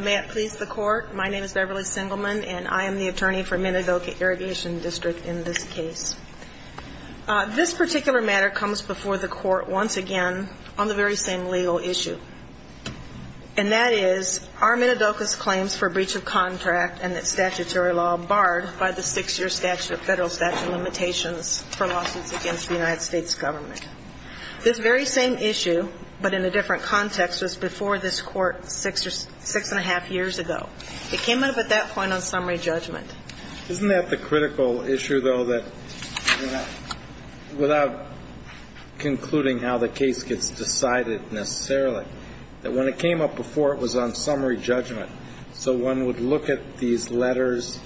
May it please the court, my name is Beverly Singleman and I am the attorney for Minidoka Irrigation District in this case. This particular matter comes before the court once again on the very same legal issue. And that is, are Minidoka's claims for breach of contract and its statutory law barred by the six-year federal statute limitations for lawsuits against the United States government? This very same issue, but in a different context, was before this court six and a half years ago. It came up at that point on summary judgment. Isn't that the critical issue, though, that without concluding how the case gets decided necessarily, that when it came up before it was on summary judgment, so one would look at these letters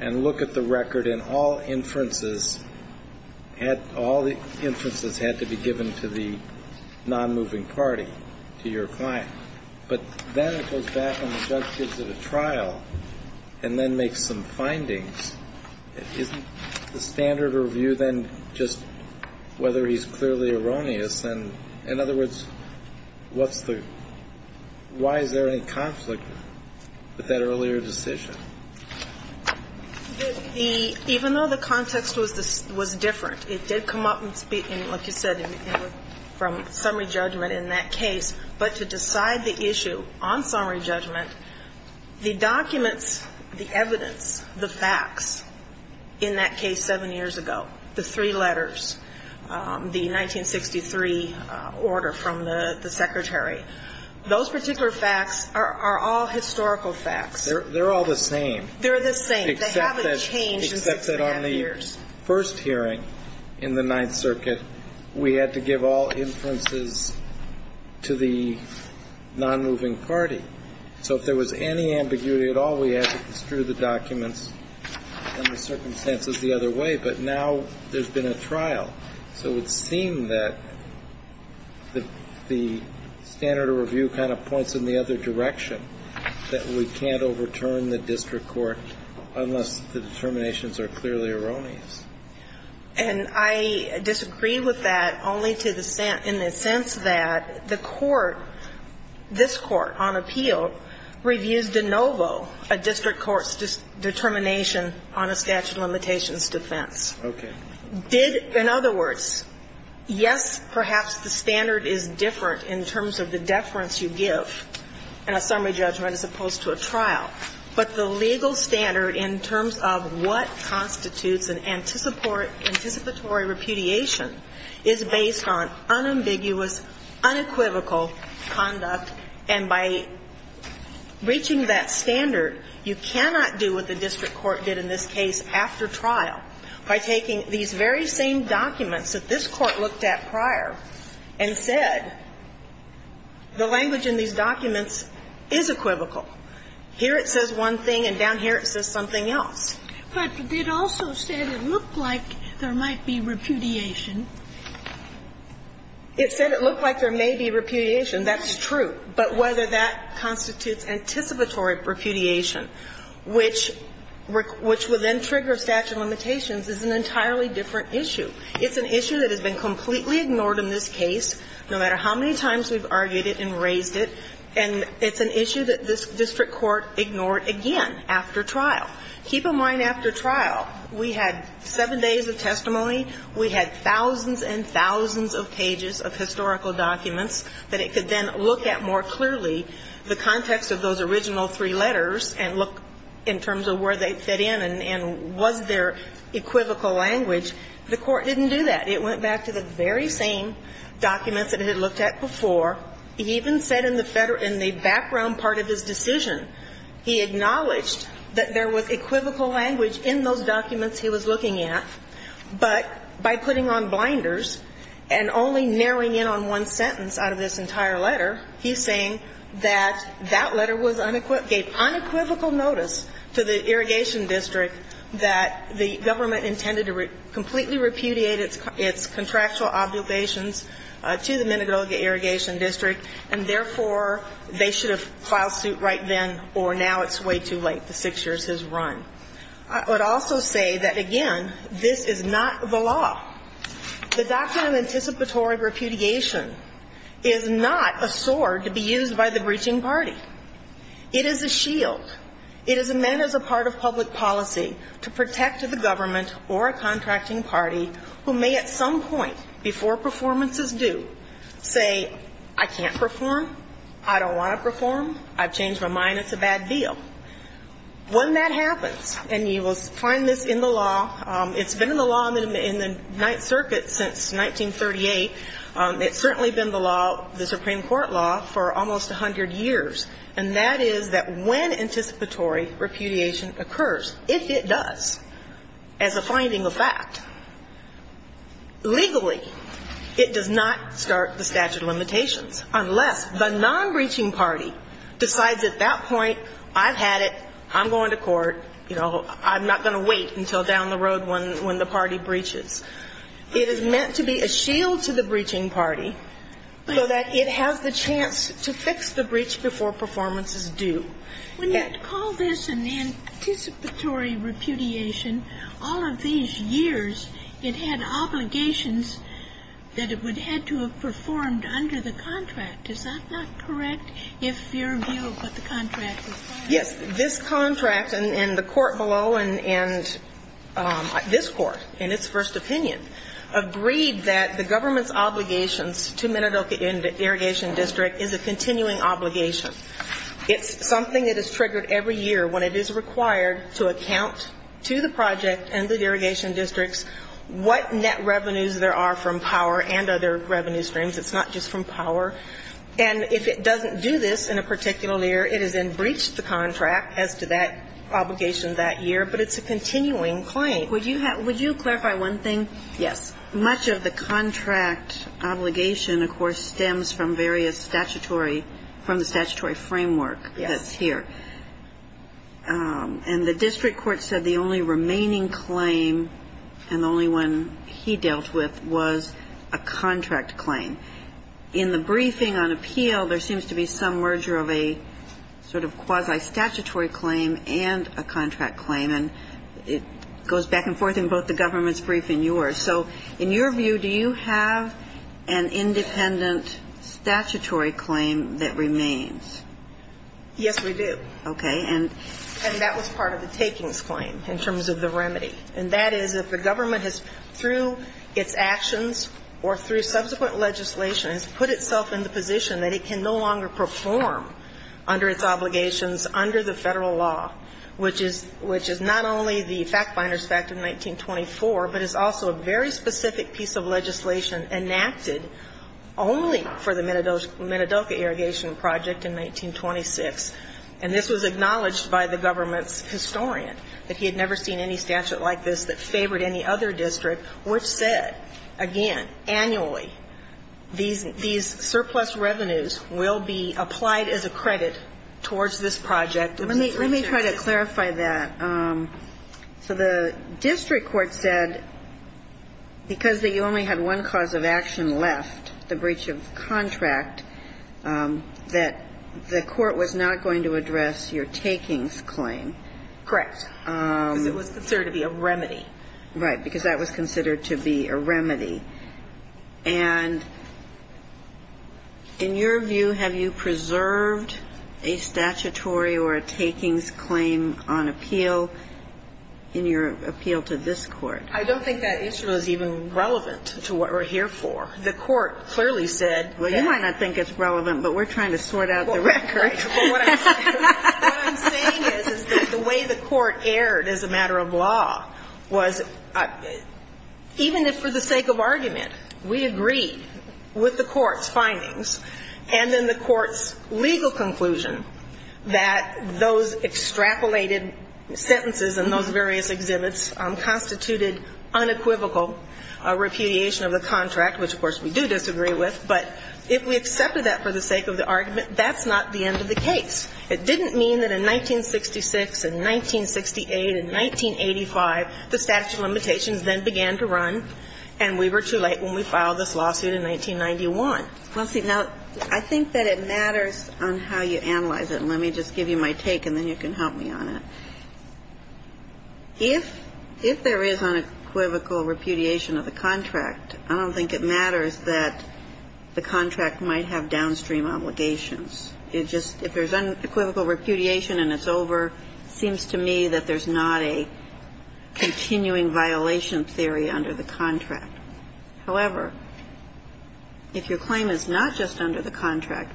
and look at the record and all inferences had to be given to the non-moving party, to your client. But then it goes back and the judge gives it a trial and then makes some findings. Isn't the standard of review then just whether he's clearly erroneous? In other words, why is there any conflict with that earlier decision? Even though the context was different, it did come up, like you said, from summary judgment in that case. But to decide the issue on summary judgment, the documents, the evidence, the facts in that case seven years ago, the three letters, the 1963 order from the Secretary, those particular facts are all historical facts. They're all the same. They're the same. They haven't changed in six and a half years. Except that on the first hearing in the Ninth Circuit, we had to give all inferences to the non-moving party. So if there was any ambiguity at all, we had to construe the documents and the circumstances the other way. But now there's been a trial. So it would seem that the standard of review kind of points in the other direction, that we can't overturn the district court unless the determinations are clearly erroneous. And I disagree with that only to the extent, in the sense that the court, this court on appeal, reviews de novo a district court's determination on a statute of limitations defense. Okay. Did, in other words, yes, perhaps the standard is different in terms of the deference you give in a summary judgment as opposed to a trial. But the legal standard in terms of what constitutes an anticipatory repudiation is based on unambiguous, unequivocal conduct. And by reaching that standard, you cannot do what the district court did in this case after trial by taking these very same documents that this Court looked at prior and said the language in these documents is equivocal. Here it says one thing and down here it says something else. But it also said it looked like there might be repudiation. It said it looked like there may be repudiation. That's true. But whether that constitutes anticipatory repudiation, which will then trigger statute of limitations, is an entirely different issue. It's an issue that has been completely ignored in this case, no matter how many times we've argued it and raised it, and it's an issue that this district court ignored again after trial. Keep in mind, after trial, we had seven days of testimony, we had thousands and thousands of pages of historical documents that it could then look at more clearly the context of those original three letters and look in terms of where they fit in and was there equivocal language. The court didn't do that. It went back to the very same documents that it had looked at before. It even said in the background part of his decision, he acknowledged that there was equivocal language in those documents he was looking at, but by putting on blinders and only narrowing in on one sentence out of this entire letter, he's saying that that letter gave unequivocal notice to the Irrigation District that the government intended to completely repudiate its contractual obligations to the Minnegoga Irrigation District, and therefore, they should have filed suit right then or now. It's way too late. The six years has run. I would also say that, again, this is not the law. The doctrine of anticipatory repudiation is not a sword to be used by the breaching party. It is a shield. It is meant as a part of public policy to protect the government or a contracting party who may at some point before performance is due say, I can't perform, I don't want to perform, I've changed my mind, it's a bad deal. When that happens, and you will find this in the law, it's been in the law in the Ninth Circuit since 1938, it's certainly been the law, the Supreme Court law, for almost 100 years, and that is that when anticipatory repudiation occurs, if it does as a finding of fact, legally, it does not start the statute of limitations unless the non-breaching party decides at that point, I've had it, I'm going to court, you know, I'm not going to wait until down the road when the party breaches. It is meant to be a shield to the breaching party so that it has the chance to fix the breach before performance is due. When you call this an anticipatory repudiation, all of these years it had obligations that it would have had to have performed under the contract. Is that not correct? If your view of what the contract is saying. Yes, this contract and the court below and this court in its first opinion agreed that the government's obligations to Minidoka and the irrigation district is a continuing obligation. It's something that is triggered every year when it is required to account to the project and the irrigation districts what net revenues there are from power and other revenue streams. It's not just from power. And if it doesn't do this in a particular year, it has then breached the contract as to that obligation that year, but it's a continuing claim. Would you clarify one thing? Yes. Much of the contract obligation, of course, stems from various statutory, from the statutory framework that's here. Yes. And the district court said the only remaining claim and the only one he dealt with was a contract claim. In the briefing on appeal, there seems to be some merger of a sort of quasi-statutory claim and a contract claim, and it goes back and forth in both the government's brief and yours. So in your view, do you have an independent statutory claim that remains? Yes, we do. Okay. And And that was part of the takings claim in terms of the remedy. And that is if the government has, through its actions or through subsequent legislation, has put itself in the position that it can no longer perform under its obligations under the Federal law, which is not only the fact-finders fact of 1924, but is also a very specific piece of legislation enacted only for the Minidoka Irrigation Project in 1926. And this was acknowledged by the government's historian, that he had never seen any statute like this that favored any other district, which said, again, annually, these surplus revenues will be applied as a credit towards this project. Let me try to clarify that. So the district court said because they only had one cause of action left, the breach of contract, that the court was not going to address your takings claim. Correct. Because it was considered to be a remedy. Right. Because that was considered to be a remedy. And in your view, have you preserved a statutory or a takings claim on appeal in your appeal to this Court? I don't think that issue is even relevant to what we're here for. The court clearly said that. Well, you might not think it's relevant, but we're trying to sort out the record. Well, what I'm saying is that the way the court erred as a matter of law was, even if for the sake of argument, we agreed with the court's findings, and then the court's legal conclusion that those extrapolated sentences in those various exhibits constituted unequivocal repudiation of the contract, which, of course, we do disagree with, but if we accepted that for the sake of the argument, that's not the end of the case. It didn't mean that in 1966 and 1968 and 1985, the statute of limitations then began to run and we were too late when we filed this lawsuit in 1991. Well, see, now, I think that it matters on how you analyze it. And let me just give you my take and then you can help me on it. If there is unequivocal repudiation of the contract, I don't think it matters that the contract might have downstream obligations. It just, if there's unequivocal repudiation and it's over, it seems to me that there's not a continuing violation theory under the contract. However, if your claim is not just under the contract,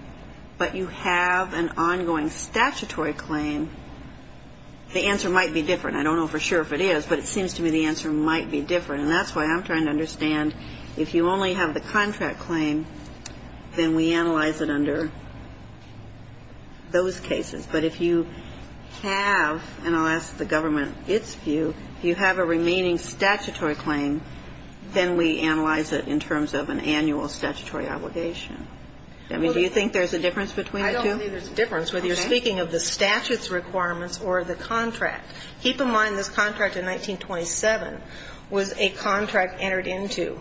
but you have an ongoing statutory claim, the answer might be different. I don't know for sure if it is, but it seems to me the answer might be different. And that's why I'm trying to understand if you only have the contract claim, then we analyze it under those cases. But if you have, and I'll ask the government its view, if you have a remaining statutory claim, then we analyze it in terms of an annual statutory obligation. I mean, do you think there's a difference between the two? I don't think there's a difference whether you're speaking of the statute's requirements or the contract. Keep in mind this contract in 1927 was a contract entered into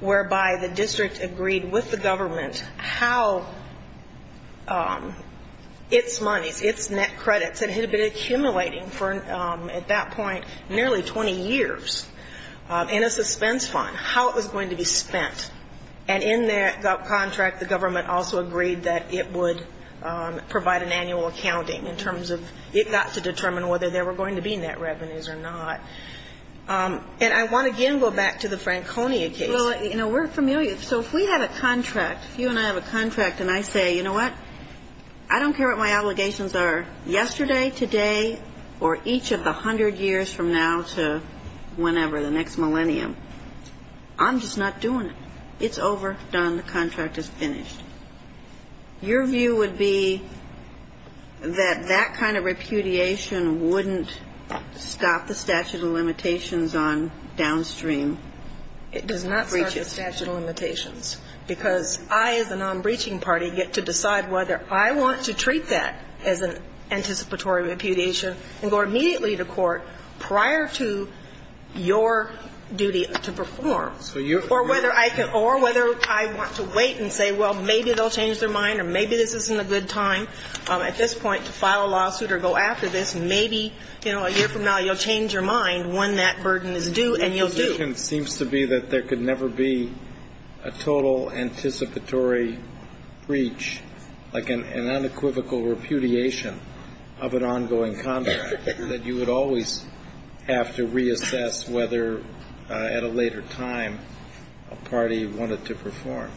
whereby the district agreed with the government how its monies, its net credits, it had been accumulating for, at that point, nearly 20 years in a suspense fund, how it was going to be spent. And in that contract, the government also agreed that it would provide an annual accounting in terms of it got to determine whether there were going to be net revenues or not. And I want to again go back to the Franconia case. Well, you know, we're familiar. So if we have a contract, if you and I have a contract, and I say, you know what, I don't care what my obligations are yesterday, today, or each of the hundred years from now to whenever, the next millennium. I'm just not doing it. It's over. Done. The contract is finished. Your view would be that that kind of repudiation wouldn't stop the statute of limitations on downstream breaches. Because I, as a non-breaching party, get to decide whether I want to treat that as an anticipatory repudiation and go immediately to court prior to your duty to perform. Or whether I want to wait and say, well, maybe they'll change their mind, or maybe this isn't a good time at this point to file a lawsuit or go after this. Maybe, you know, a year from now you'll change your mind when that burden is due, and you'll do. My assumption seems to be that there could never be a total anticipatory breach, like an unequivocal repudiation of an ongoing contract, that you would always have to reassess whether at a later time a party wanted to perform.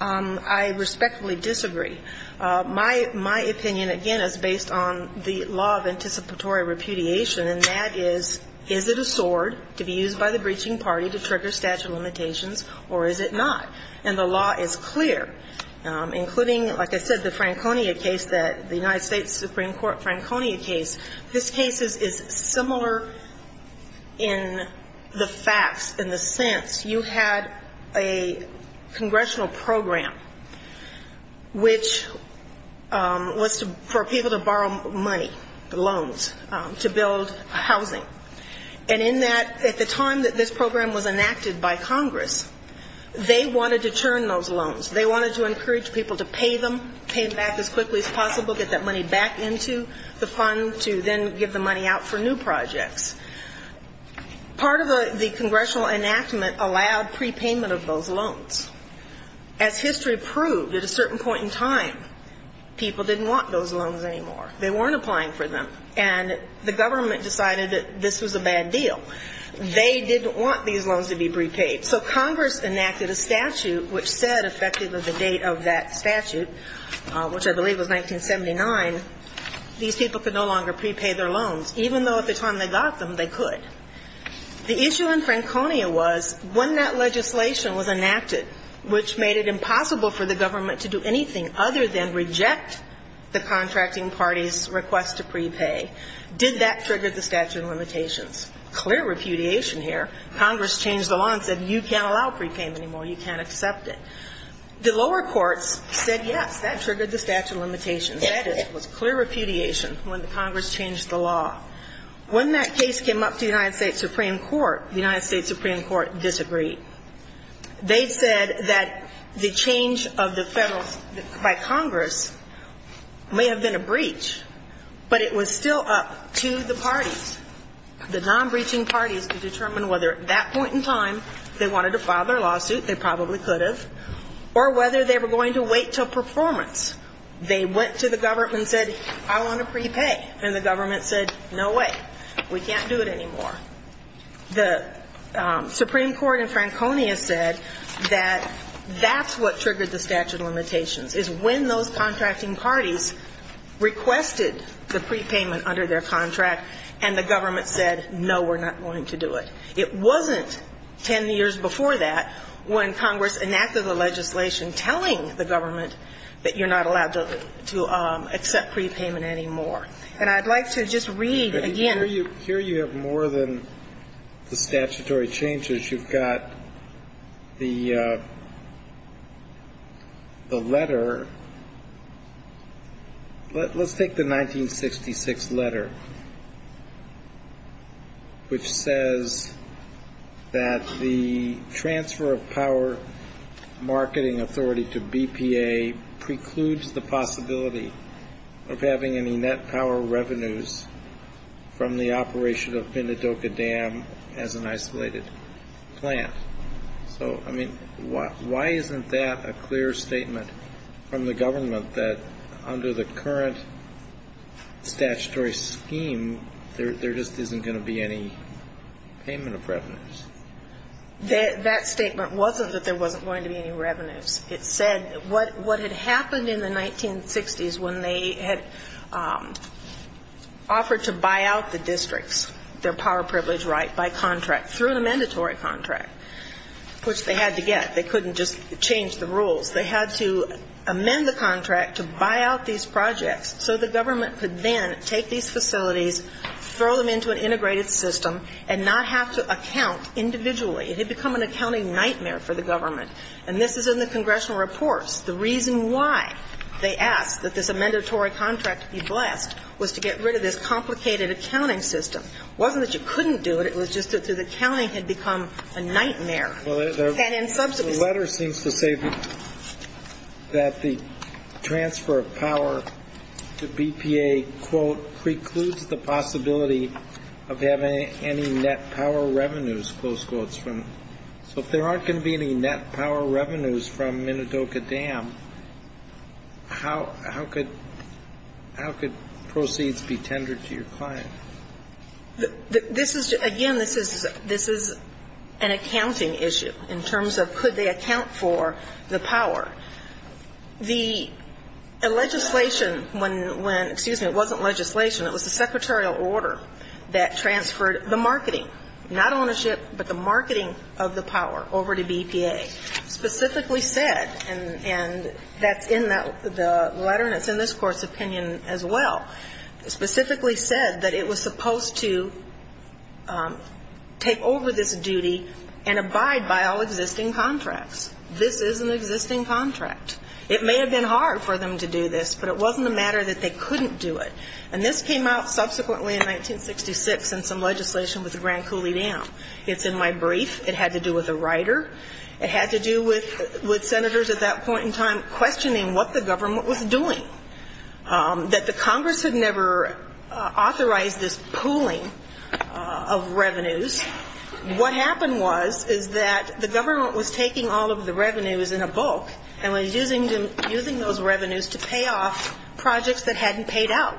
I respectfully disagree. My opinion, again, is based on the law of anticipatory repudiation, and that is, is it a sword to be used by the breaching party to trigger statute of limitations, or is it not? And the law is clear, including, like I said, the Franconia case that, the United States Supreme Court Franconia case. This case is similar in the facts, in the sense you had a congressional program, which was for people to borrow money, loans, to build housing. And in that, at the time that this program was enacted by Congress, they wanted to turn those loans. They wanted to encourage people to pay them, pay back as quickly as possible, get that money back into the fund to then give the money out for new projects. Part of the congressional enactment allowed prepayment of those loans. As history proved, at a certain point in time, people didn't want those loans anymore. They weren't applying for them, and the government decided that this was a bad deal. They didn't want these loans to be prepaid. So Congress enacted a statute which said, effective of the date of that statute, which I believe was 1979, these people could no longer prepay their loans, even though at the time they got them, they could. The issue in Franconia was, when that legislation was enacted, which made it impossible for the government to do anything other than reject the contracting party's request to prepay, did that trigger the statute of limitations? Clear repudiation here. Congress changed the law and said, you can't allow prepayment anymore. You can't accept it. The lower courts said, yes, that triggered the statute of limitations. That is, it was clear repudiation when Congress changed the law. When that case came up to the United States Supreme Court, the United States Supreme Court disagreed. They said that the change of the federal, by Congress, may have been a breach, but it was still up to the parties, the non-breaching parties, to determine whether at that point in time they wanted to file their lawsuit, they probably could have, or whether they were going to wait until performance. They went to the government and said, I want to prepay. And the government said, no way. We can't do it anymore. The Supreme Court in Franconia said that that's what triggered the statute of limitations, is when those contracting parties requested the prepayment under their contract and the government said, no, we're not going to do it. It wasn't 10 years before that when Congress enacted the legislation telling the government that you're not allowed to accept prepayment anymore. And I'd like to just read again. Here you have more than the statutory changes. You've got the letter. Let's take the 1966 letter, which says that the transfer of power marketing authority to BPA precludes the possibility of having any net power revenues from the operation of Bendidoka Dam as an isolated plant. So, I mean, why isn't that a clear statement from the government that under the current statutory scheme, there just isn't going to be any payment of revenues? That statement wasn't that there wasn't going to be any revenues. It said what had happened in the 1960s when they had offered to buy out the districts, their power privilege right by contract, through an amendatory contract, which they had to get. They couldn't just change the rules. They had to amend the contract to buy out these projects so the government could then take these facilities, throw them into an integrated system and not have to account individually. It had become an accounting nightmare for the government. And this is in the congressional reports. The reason why they asked that this amendatory contract be blessed was to get rid of this complicated accounting system. It wasn't that you couldn't do it. It was just that the accounting had become a nightmare. Well, the letter seems to say that the transfer of power to BPA, quote, precludes the possibility of having any net power revenues, close quotes. So if there aren't going to be any net power revenues from Minidoka Dam, how could proceeds be tendered to your client? Again, this is an accounting issue in terms of could they account for the power. The legislation when, excuse me, it wasn't legislation. It was the secretarial order that transferred the marketing, not ownership, but the marketing of the power over to BPA specifically said, and that's in the letter and it's in this Court's opinion as well, specifically said that it was supposed to take over this duty and abide by all existing contracts. This is an existing contract. It may have been hard for them to do this, but it wasn't a matter that they couldn't do it. And this came out subsequently in 1966 in some legislation with the Grand Coulee Dam. It's in my brief. It had to do with a writer. It had to do with senators at that point in time questioning what the government was doing, that the Congress had never authorized this pooling of revenues. What happened was is that the government was taking all of the revenues in a bulk and was using those revenues to pay off projects that hadn't paid out,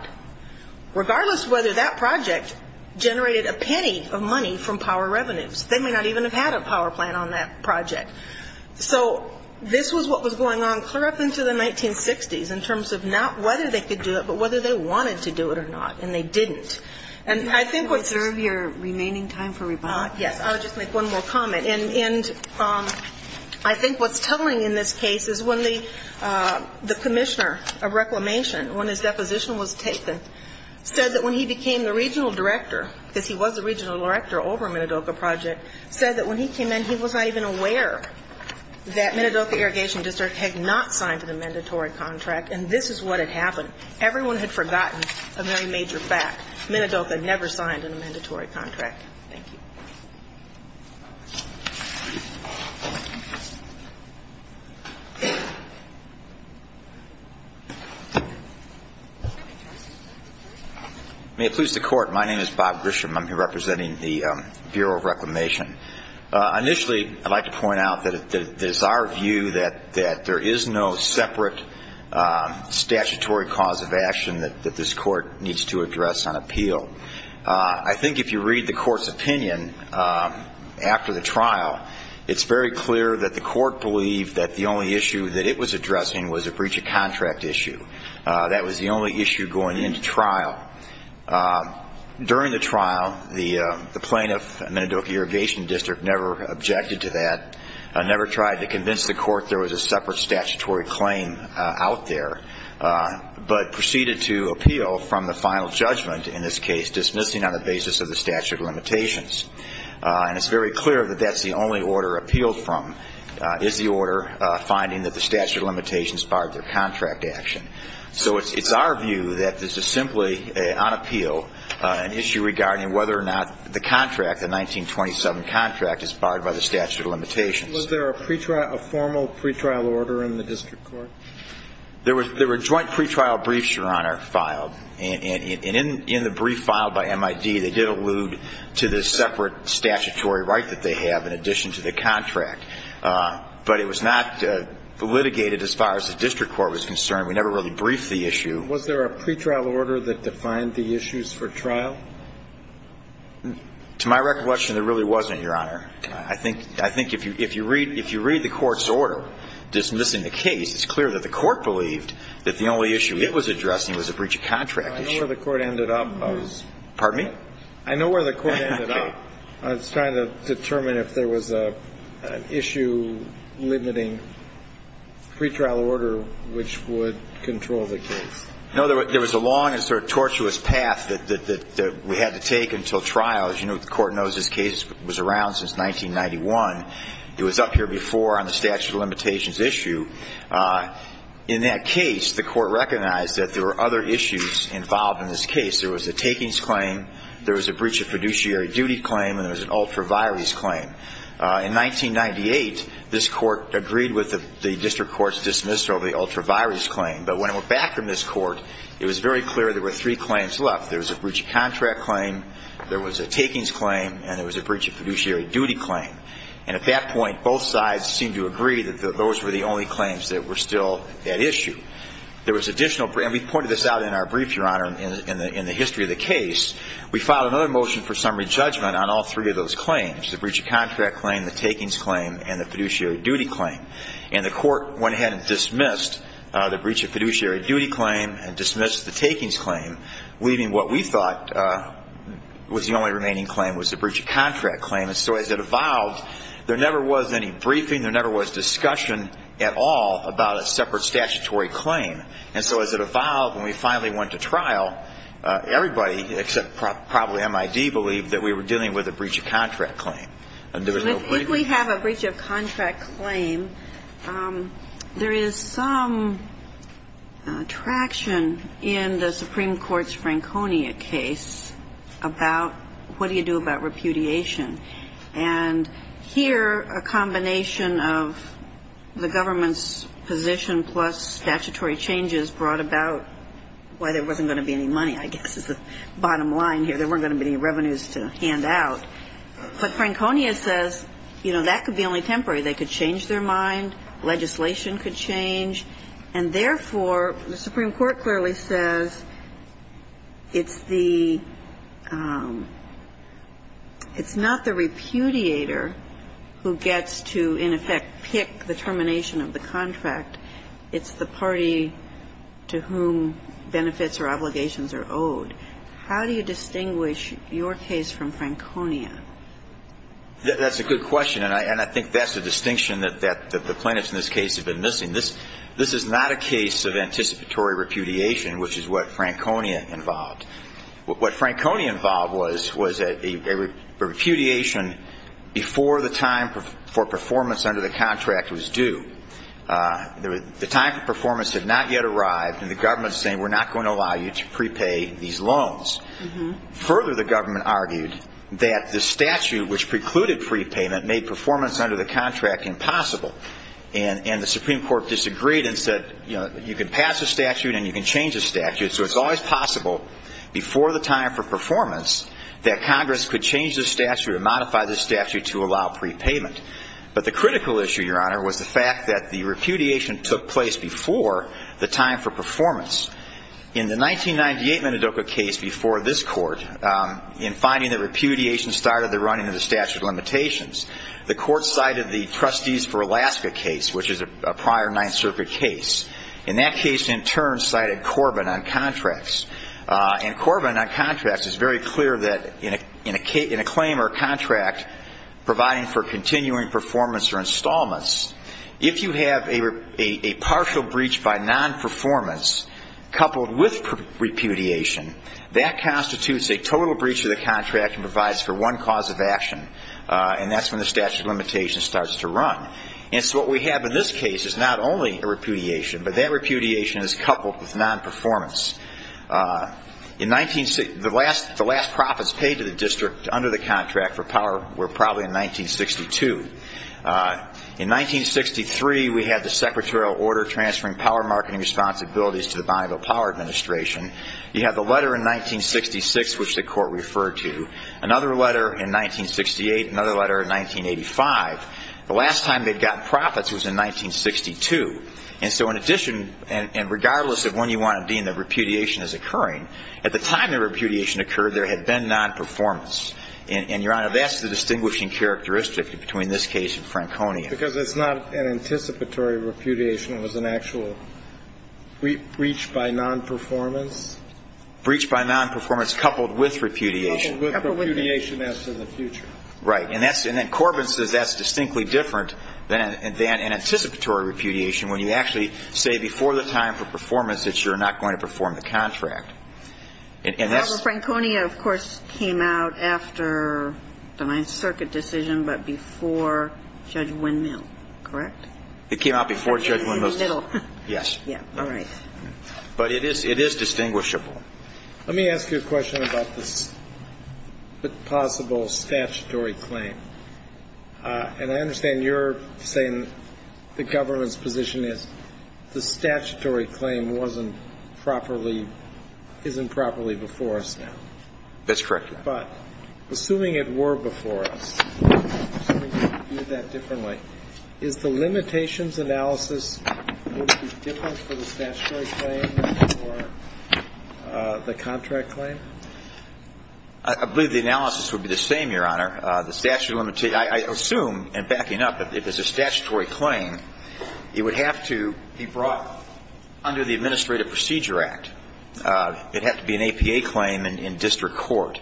regardless of whether that project generated a penny of money from power revenues. They may not even have had a power plant on that project. So this was what was going on clear up into the 1960s in terms of not whether they could do it, but whether they wanted to do it or not, and they didn't. And I think what's – Do you want to reserve your remaining time for rebuttal? Yes. I'll just make one more comment. And I think what's telling in this case is when the commissioner of reclamation, when his deposition was taken, said that when he became the regional director, because he was the regional director over Minidoka Project, said that when he came in, he was not even aware that Minidoka Irrigation District had not signed an amendatory contract. And this is what had happened. Everyone had forgotten a very major fact. Minidoka never signed an amendatory contract. Thank you. May it please the Court. My name is Bob Grisham. I'm here representing the Bureau of Reclamation. Initially, I'd like to point out that it's our view that there is no separate statutory cause of action that this Court needs to address on appeal. I think if you read the Court's opinion after the trial, it's very clear that the Court believed that the only issue that it was addressing was a breach of contract issue. That was the only issue going into trial. During the trial, the plaintiff, Minidoka Irrigation District, never objected to that, never tried to convince the Court there was a separate statutory claim out there, but proceeded to appeal from the final judgment, in this case, dismissing on the basis of the statute of limitations. And it's very clear that that's the only order appealed from, is the order finding that the statute of limitations barred their contract action. So it's our view that this is simply, on appeal, an issue regarding whether or not the contract, the 1927 contract, is barred by the statute of limitations. Was there a formal pretrial order in the district court? There were joint pretrial briefs, Your Honor, filed. And in the brief filed by MID, they did allude to the separate statutory right that they have in addition to the contract. But it was not litigated as far as the district court was concerned. We never really briefed the issue. Was there a pretrial order that defined the issues for trial? To my recollection, there really wasn't, Your Honor. I think if you read the Court's order dismissing the case, it's clear that the Court believed that the only issue it was addressing was a breach of contract issue. I know where the Court ended up. Pardon me? I know where the Court ended up. I was trying to determine if there was an issue limiting pretrial order, which would control the case. No, there was a long and sort of tortuous path that we had to take until trial. As you know, the Court knows this case was around since 1991. It was up here before on the statute of limitations issue. In that case, the Court recognized that there were other issues involved in this case. There was a takings claim, there was a breach of fiduciary duty claim, and there was an ultra vires claim. In 1998, this Court agreed with the district court's dismissal of the ultra vires claim. But when it went back from this Court, it was very clear there were three claims left. There was a breach of contract claim, there was a takings claim, and there was a breach of fiduciary duty claim. And at that point, both sides seemed to agree that those were the only claims that were still at issue. There was additional, and we pointed this out in our brief, Your Honor, in the history of the case. We filed another motion for summary judgment on all three of those claims, the breach of contract claim, the takings claim, and the fiduciary duty claim. And the Court went ahead and dismissed the breach of fiduciary duty claim and dismissed the takings claim, leaving what we thought was the only remaining claim was the breach of contract claim. And so as it evolved, there never was any briefing, there never was discussion at all about a separate statutory claim. And so as it evolved, when we finally went to trial, everybody except probably MID believed that we were dealing with a breach of contract claim. If we have a breach of contract claim, there is some traction in the Supreme Court's Franconia case about what do you do about repudiation. And here a combination of the government's position plus statutory changes brought about why there wasn't going to be any money, I guess, is the bottom line here. There weren't going to be any revenues to hand out. But Franconia says, you know, that could be only temporary. They could change their mind. Legislation could change. And therefore, the Supreme Court clearly says it's the – it's not the repudiator who gets to, in effect, pick the termination of the contract. It's the party to whom benefits or obligations are owed. How do you distinguish your case from Franconia? That's a good question. And I think that's the distinction that the plaintiffs in this case have been missing. This is not a case of anticipatory repudiation, which is what Franconia involved. What Franconia involved was a repudiation before the time for performance under the contract was due. The time for performance had not yet arrived, and the government is saying we're not going to allow you to prepay these loans. Further, the government argued that the statute which precluded prepayment made performance under the contract impossible. And the Supreme Court disagreed and said, you know, you can pass a statute and you can change a statute. So it's always possible before the time for performance that Congress could change the statute or modify the statute to allow prepayment. But the critical issue, Your Honor, was the fact that the repudiation took place before the time for performance. In the 1998 Minidoka case before this Court, in finding that repudiation started the running of the statute of limitations, the Court cited the Trustees for Alaska case, which is a prior Ninth Circuit case. And that case, in turn, cited Corbin on contracts. And Corbin on contracts is very clear that in a claim or contract providing for continuing performance or installments, if you have a partial breach by non-performance coupled with repudiation, that constitutes a total breach of the contract and provides for one cause of action. And that's when the statute of limitations starts to run. And so what we have in this case is not only a repudiation, but that repudiation is coupled with non-performance. The last profits paid to the district under the contract were probably in 1962. In 1963, we had the secretarial order transferring power marketing responsibilities to the Bonneville Power Administration. You have the letter in 1966, which the Court referred to. Another letter in 1968. Another letter in 1985. The last time they'd gotten profits was in 1962. And so in addition, and regardless of when you want to deem the repudiation as occurring, at the time the repudiation occurred, there had been non-performance. And, Your Honor, that's the distinguishing characteristic between this case and Franconia. Because it's not an anticipatory repudiation. It was an actual breach by non-performance. Breach by non-performance coupled with repudiation. Coupled with repudiation as to the future. Right. And then Corbin says that's distinctly different than an anticipatory repudiation, when you actually say before the time for performance that you're not going to perform the contract. Robert, Franconia, of course, came out after the Ninth Circuit decision, but before Judge Windmill. Correct? It came out before Judge Windmill. In the middle. Yes. Yeah. All right. But it is distinguishable. Let me ask you a question about this possible statutory claim. And I understand you're saying the government's position is the statutory claim wasn't properly, isn't properly before us now. That's correct, Your Honor. But assuming it were before us, assuming you view that differently, is the limitations analysis, would it be different for the statutory claim or the contract claim? I believe the analysis would be the same, Your Honor. I assume, and backing up, if it's a statutory claim, it would have to be brought under the Administrative Procedure Act. It'd have to be an APA claim in district court.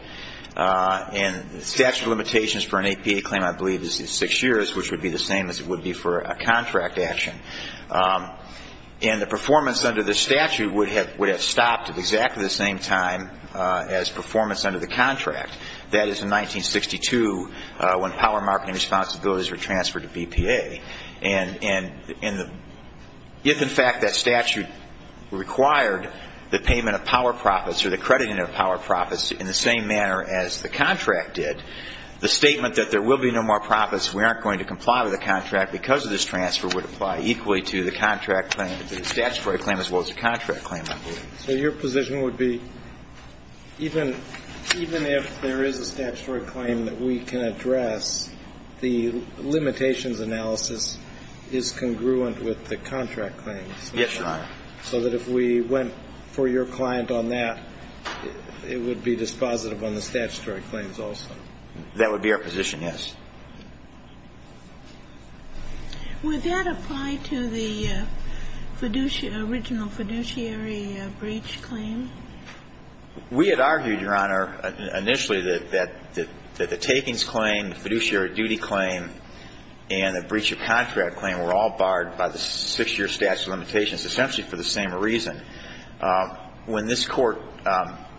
And the statute of limitations for an APA claim, I believe, is six years, which would be the same as it would be for a contract action. And the performance under the statute would have stopped at exactly the same time as performance under the contract. That is, in 1962, when power marketing responsibilities were transferred to BPA. And if, in fact, that statute required the payment of power profits or the crediting of power profits in the same manner as the contract did, the statement that there will be no more profits, we aren't going to comply with the contract because of this transfer would apply equally to the contract claim, the statutory claim, as well as the contract claim, I believe. So your position would be even if there is a statutory claim that we can address, the limitations analysis is congruent with the contract claims? Yes, Your Honor. So that if we went for your client on that, it would be dispositive on the statutory claims also? That would be our position, yes. Would that apply to the original fiduciary breach claim? We had argued, Your Honor, initially that the takings claim, the fiduciary duty claim, and the breach of contract claim were all barred by the six-year statute of limitations essentially for the same reason. When this Court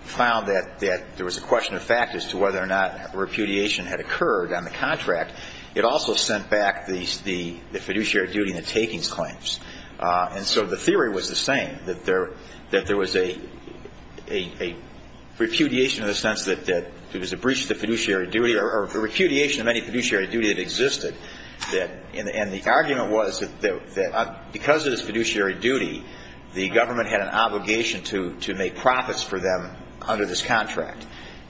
found that there was a question of fact as to whether or not repudiation had occurred on the contract, it also sent back the fiduciary duty and the takings claims. And so the theory was the same, that there was a repudiation in the sense that it was a breach of the fiduciary duty or a repudiation of any fiduciary duty that existed. And the argument was that because of this fiduciary duty, the government had an obligation to make profits for them under this contract.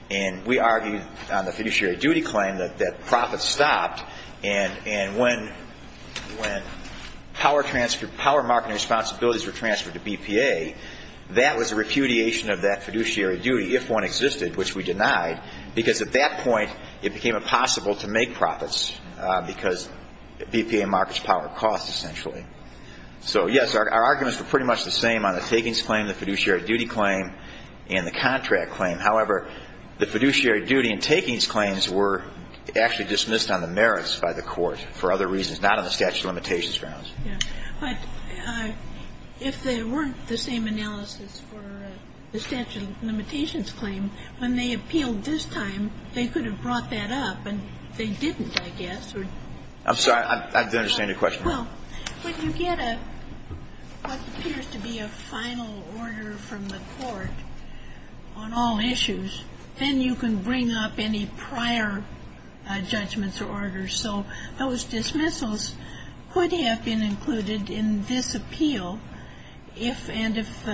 And we argued on the fiduciary duty claim that profits stopped. And when power market responsibilities were transferred to BPA, that was a repudiation of that fiduciary duty, if one existed, which we denied, because at that point it became impossible to make profits because BPA markets power costs essentially. So, yes, our arguments were pretty much the same on the takings claim, the fiduciary duty claim, and the contract claim. However, the fiduciary duty and takings claims were actually dismissed on the merits by the Court for other reasons, not on the statute of limitations grounds. But if they weren't the same analysis for the statute of limitations claim, when they appealed this time, they could have brought that up, and they didn't, I guess. I'm sorry. I didn't understand your question. Well, when you get what appears to be a final order from the Court on all issues, then you can bring up any prior judgments or orders. So those dismissals could have been included in this appeal if and if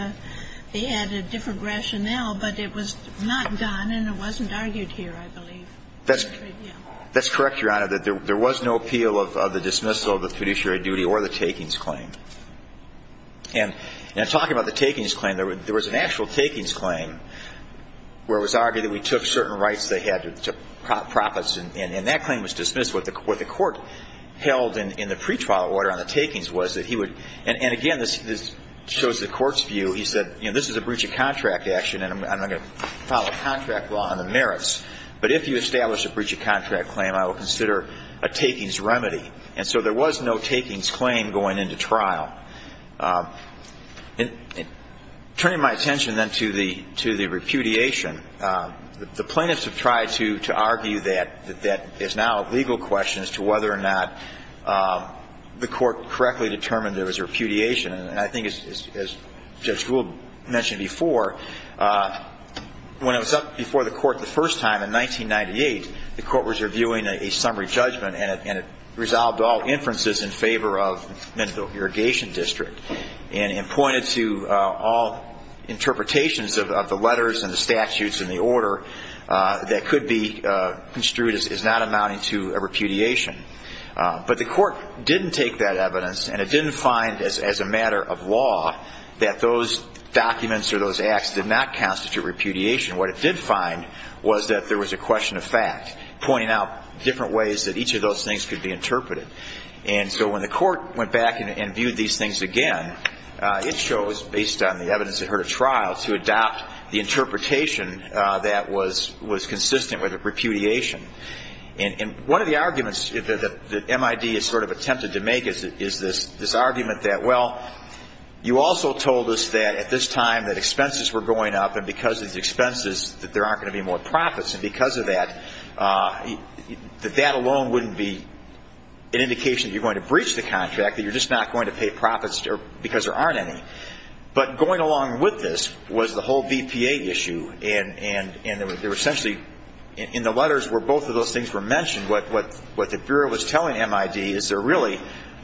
they had a different rationale, but it was not done, and it wasn't argued here, I believe. That's correct, Your Honor. There was no appeal of the dismissal of the fiduciary duty or the takings claim. And in talking about the takings claim, there was an actual takings claim where it was argued that we took certain rights they had to profits, and that claim was dismissed. What the Court held in the pretrial order on the takings was that he would – and, again, this shows the Court's view. He said, you know, this is a breach of contract action, but if you establish a breach of contract claim, I will consider a takings remedy. And so there was no takings claim going into trial. Turning my attention, then, to the repudiation, the plaintiffs have tried to argue that that is now a legal question as to whether or not the Court correctly determined there was repudiation. And I think, as Judge Gould mentioned before, when it was up before the Court the first time in 1998, the Court was reviewing a summary judgment, and it resolved all inferences in favor of the Mendel Irrigation District and pointed to all interpretations of the letters and the statutes and the order that could be construed as not amounting to a repudiation. But the Court didn't take that evidence, and it didn't find as a matter of law that those documents or those acts did not constitute repudiation. What it did find was that there was a question of fact, pointing out different ways that each of those things could be interpreted. And so when the Court went back and viewed these things again, it chose, based on the evidence it heard at trial, to adopt the interpretation that was consistent with repudiation. And one of the arguments that MID has sort of attempted to make is this argument that, well, you also told us that at this time that expenses were going up, and because of the expenses that there aren't going to be more profits, and because of that, that that alone wouldn't be an indication that you're going to breach the contract, that you're just not going to pay profits because there aren't any. But going along with this was the whole VPA issue, and there were essentially, in the letters where both of those things were mentioned, what the Bureau was telling MID is there really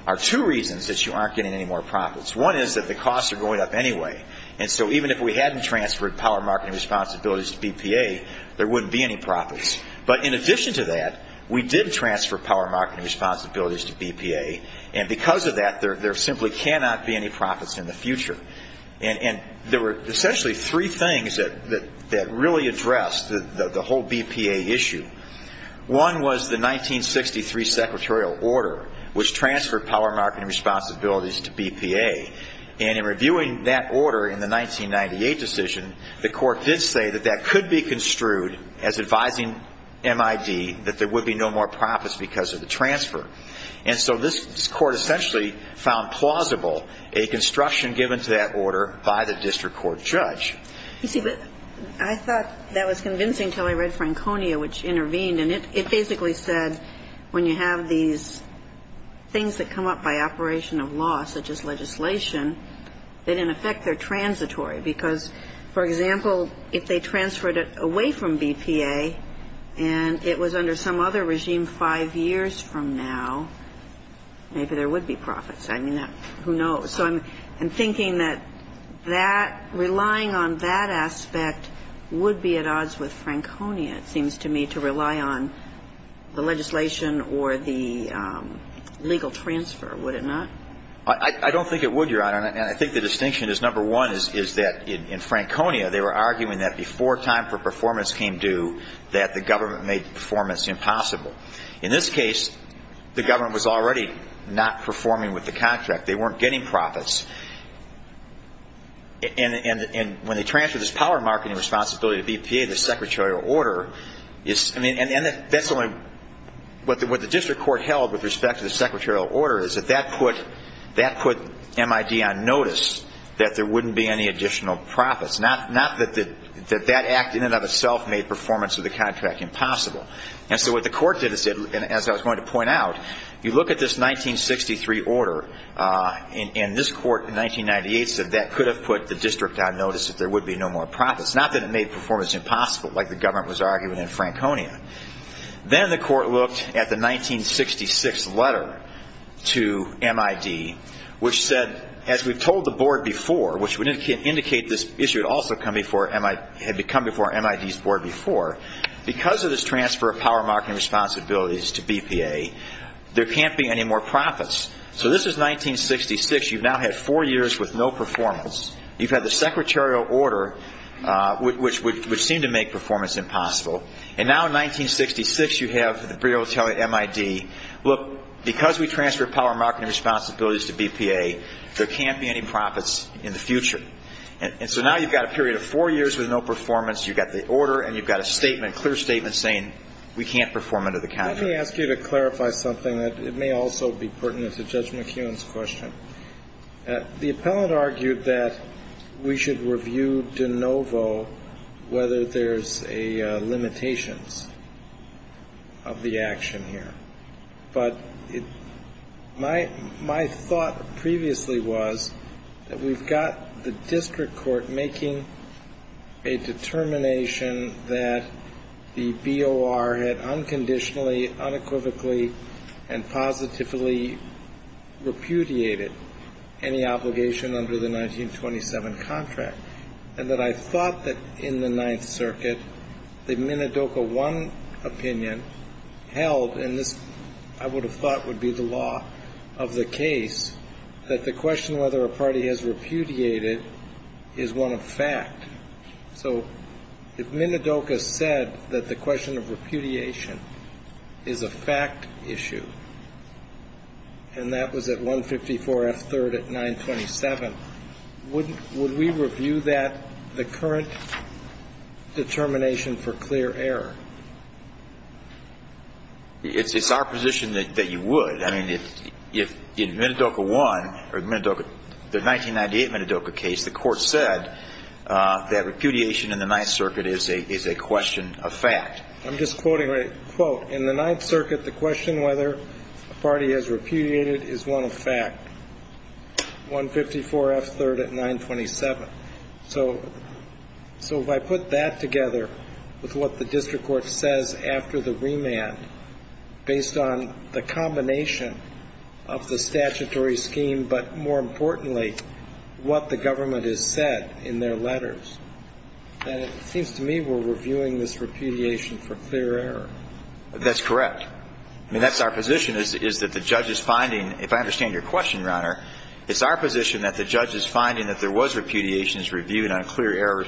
are two reasons that you aren't getting any more profits. One is that the costs are going up anyway, and so even if we hadn't transferred power, market, and responsibilities to BPA, there wouldn't be any profits. But in addition to that, we did transfer power, market, and responsibilities to BPA, and because of that, there simply cannot be any profits in the future. And there were essentially three things that really addressed the whole BPA issue. One was the 1963 secretarial order, which transferred power, market, and responsibilities to BPA, and in reviewing that order in the 1998 decision, the court did say that that could be construed as advising MID that there would be no more profits because of the transfer. And so this court essentially found plausible a construction given to that order by the district court judge. You see, I thought that was convincing until I read Franconia, which intervened, and it basically said when you have these things that come up by operation of law, such as legislation, that in effect they're transitory because, for example, if they transferred it away from BPA and it was under some other regime five years from now, maybe there would be profits. I mean, who knows? So I'm thinking that relying on that aspect would be at odds with Franconia, it seems to me, to rely on the legislation or the legal transfer, would it not? I don't think it would, Your Honor, and I think the distinction is, number one, is that in Franconia they were arguing that before time for performance came due, that the government made performance impossible. In this case, the government was already not performing with the contract. They weren't getting profits. And when they transferred this power of marketing responsibility to BPA, the secretarial order is – and that's the only – what the district court held with respect to the secretarial order is that that put MID on notice that there wouldn't be any additional profits, not that that act in and of itself made performance of the contract impossible. And so what the court did is, as I was going to point out, you look at this 1963 order, and this court in 1998 said that could have put the district on notice that there would be no more profits, not that it made performance impossible like the government was arguing in Franconia. Then the court looked at the 1966 letter to MID, which said, as we've told the board before, which would indicate this issue had also come before MID's board before, because of this transfer of power of marketing responsibilities to BPA, there can't be any more profits. So this is 1966. You've now had four years with no performance. You've had the secretarial order, which seemed to make performance impossible. And now in 1966, you have the bureau telling MID, look, because we transferred power of marketing responsibilities to BPA, there can't be any profits in the future. And so now you've got a period of four years with no performance. You've got the order, and you've got a statement, a clear statement saying we can't perform under the contract. Let me ask you to clarify something that may also be pertinent to Judge McEwen's question. The appellant argued that we should review de novo whether there's a limitations of the action here. But my thought previously was that we've got the district court making a determination that the BOR had unconditionally, unequivocally, and positively repudiated any obligation under the 1927 contract, and that I thought that in the Ninth Circuit the Minidoka I opinion held, and this I would have thought would be the law of the case, that the question whether a party has repudiated is one of fact. So if Minidoka said that the question of repudiation is a fact issue, and that was at 154 F. 3rd at 927, would we review that, the current determination for clear error? It's our position that you would. I mean, if Minidoka I or the 1998 Minidoka case, the court said that repudiation in the Ninth Circuit is a question of fact. I'm just quoting a quote. In the Ninth Circuit, the question whether a party has repudiated is one of fact. 154 F. 3rd at 927. So if I put that together with what the district court says after the remand, based on the combination of the statutory scheme, but more importantly, what the government has said in their letters, then it seems to me we're reviewing this repudiation for clear error. That's correct. I mean, that's our position, is that the judge is finding, if I understand your question, Your Honor, it's our position that the judge is finding that there was repudiation is reviewed on a clear error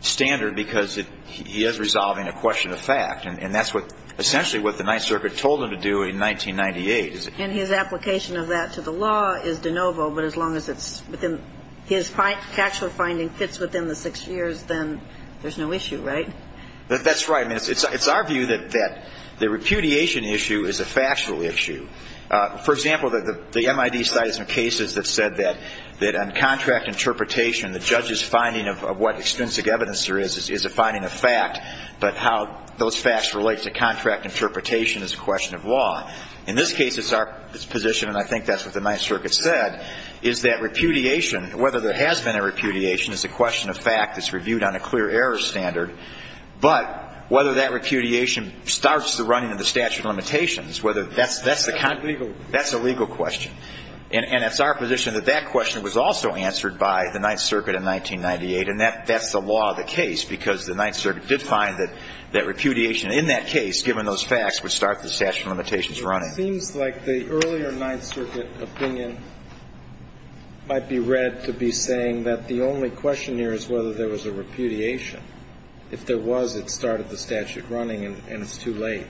standard because he is resolving a question of fact. And that's essentially what the Ninth Circuit told him to do in 1998. And his application of that to the law is de novo, but as long as his factual finding fits within the six years, then there's no issue, right? That's right. I mean, it's our view that the repudiation issue is a factual issue. For example, the MID side has some cases that said that on contract interpretation, the judge's finding of what extrinsic evidence there is is a finding of fact, but how those facts relate to contract interpretation is a question of law. In this case, it's our position, and I think that's what the Ninth Circuit said, is that repudiation, whether there has been a repudiation, is a question of fact that's reviewed on a clear error standard. But whether that repudiation starts the running of the statute of limitations, whether that's the kind of question. That's a legal question. And it's our position that that question was also answered by the Ninth Circuit in 1998, and that's the law of the case because the Ninth Circuit did find that repudiation in that case, given those facts, would start the statute of limitations running. But it seems like the earlier Ninth Circuit opinion might be read to be saying that the only question here is whether there was a repudiation. If there was, it started the statute running, and it's too late.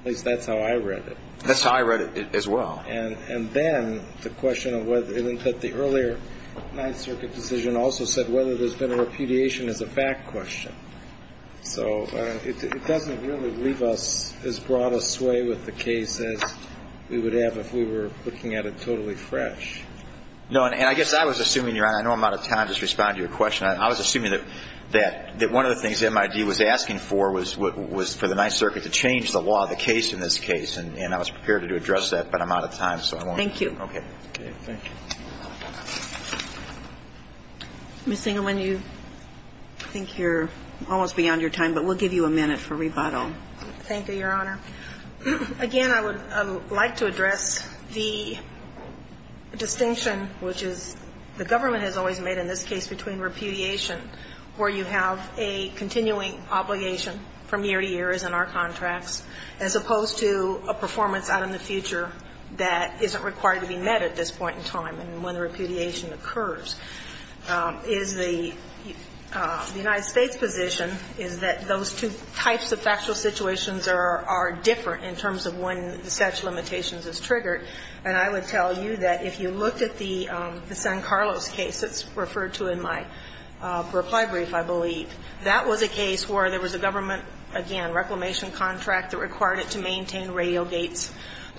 At least that's how I read it. That's how I read it as well. And then the question of whether the earlier Ninth Circuit decision also said whether there's been a repudiation is a fact question. So it doesn't really leave us as broad a sway with the case as we would have if we were looking at it totally fresh. No, and I guess I was assuming, Your Honor, I know I'm out of time to respond to your question. I was assuming that one of the things MID was asking for was for the Ninth Circuit to change the law of the case in this case. And I was prepared to address that, but I'm out of time, so I won't. Thank you. Okay. Thank you. Ms. Engelman, you think you're almost beyond your time, but we'll give you a minute for rebuttal. Thank you, Your Honor. Again, I would like to address the distinction, which is the government has always made in this case between repudiation, where you have a continuing obligation from year to year as in our contracts, as opposed to a performance out in the future that isn't required to be met at this point in time and when the repudiation occurs, is the United States position is that those two types of factual situations are different in terms of when such limitations is triggered. And I would tell you that if you looked at the San Carlos case that's referred to in my reply brief, I believe, that was a case where there was a government, again, reclamation contract that required it to maintain radial gates.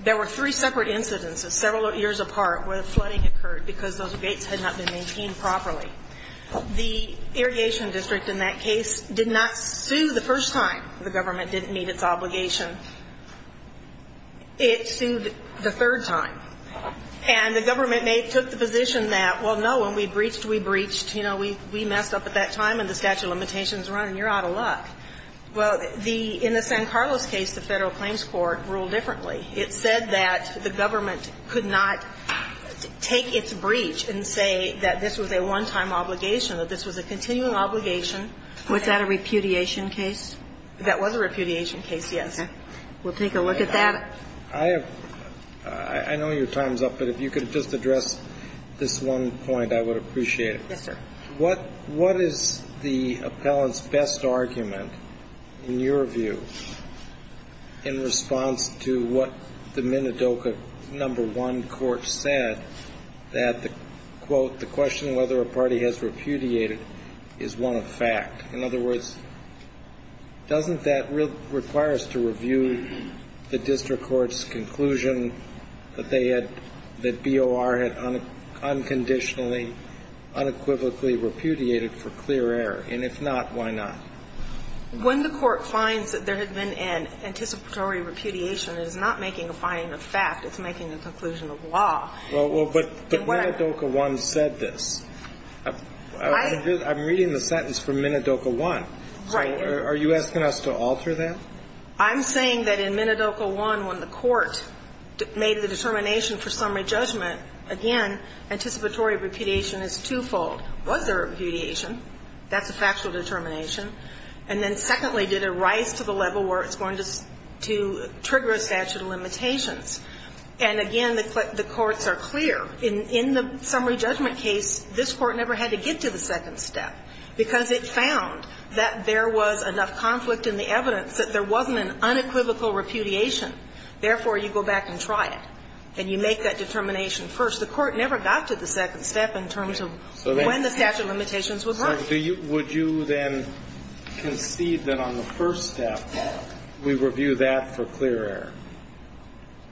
There were three separate incidents several years apart where flooding occurred because those gates had not been maintained properly. The irrigation district in that case did not sue the first time the government didn't meet its obligation. It sued the third time. And the government took the position that, well, no, when we breached, we breached. You know, we messed up at that time and the statute of limitations is running. You're out of luck. Well, in the San Carlos case, the Federal Claims Court ruled differently. It said that the government could not take its breach and say that this was a one-time obligation, that this was a continuing obligation. Was that a repudiation case? That was a repudiation case, yes. Okay. We'll take a look at that. I have – I know your time's up, but if you could just address this one point, I would appreciate it. Yes, sir. What is the appellant's best argument, in your view, in response to what the Minidoka No. 1 court said, that the, quote, the question whether a party has repudiated is one of fact? In other words, doesn't that require us to review the district court's conclusion that they had, that BOR had unconditionally, unequivocally repudiated for clear error? And if not, why not? When the court finds that there had been an anticipatory repudiation, it is not making a finding of fact. It's making a conclusion of law. Well, but Minidoka No. 1 said this. I'm reading the sentence from Minidoka 1. Right. Are you asking us to alter that? I'm saying that in Minidoka 1, when the court made the determination for summary judgment, again, anticipatory repudiation is twofold. Was there a repudiation? That's a factual determination. And then secondly, did it rise to the level where it's going to trigger a statute of limitations? And again, the courts are clear. In the summary judgment case, this court never had to get to the second step because it found that there was enough conflict in the evidence that there wasn't an unequivocal repudiation. Therefore, you go back and try it. And you make that determination first. The court never got to the second step in terms of when the statute of limitations would work. So would you then concede that on the first step, we review that for clear error?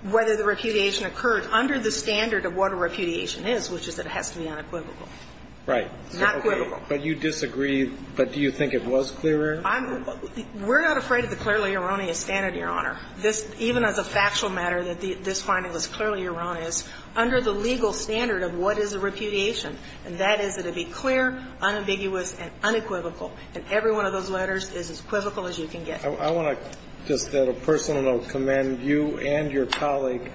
Whether the repudiation occurred under the standard of what a repudiation is, which is that it has to be unequivocal. Right. Not equivocal. But you disagree. But do you think it was clear error? We're not afraid of the clearly erroneous standard, Your Honor. This, even as a factual matter, that this finding was clearly erroneous, under the legal standard of what is a repudiation. And that is that it be clear, unambiguous, and unequivocal. And every one of those letters is as equivocal as you can get. I want to just, on a personal note, commend you and your colleague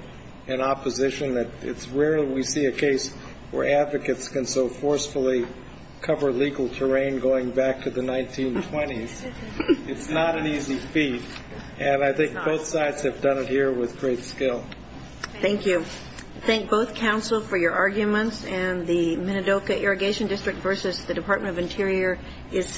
in opposition. It's rare we see a case where advocates can so forcefully cover legal terrain going back to the 1920s. It's not an easy feat. And I think both sides have done it here with great skill. Thank you. Thank both counsel for your arguments. And the Minidoka Irrigation District versus the Department of Interior is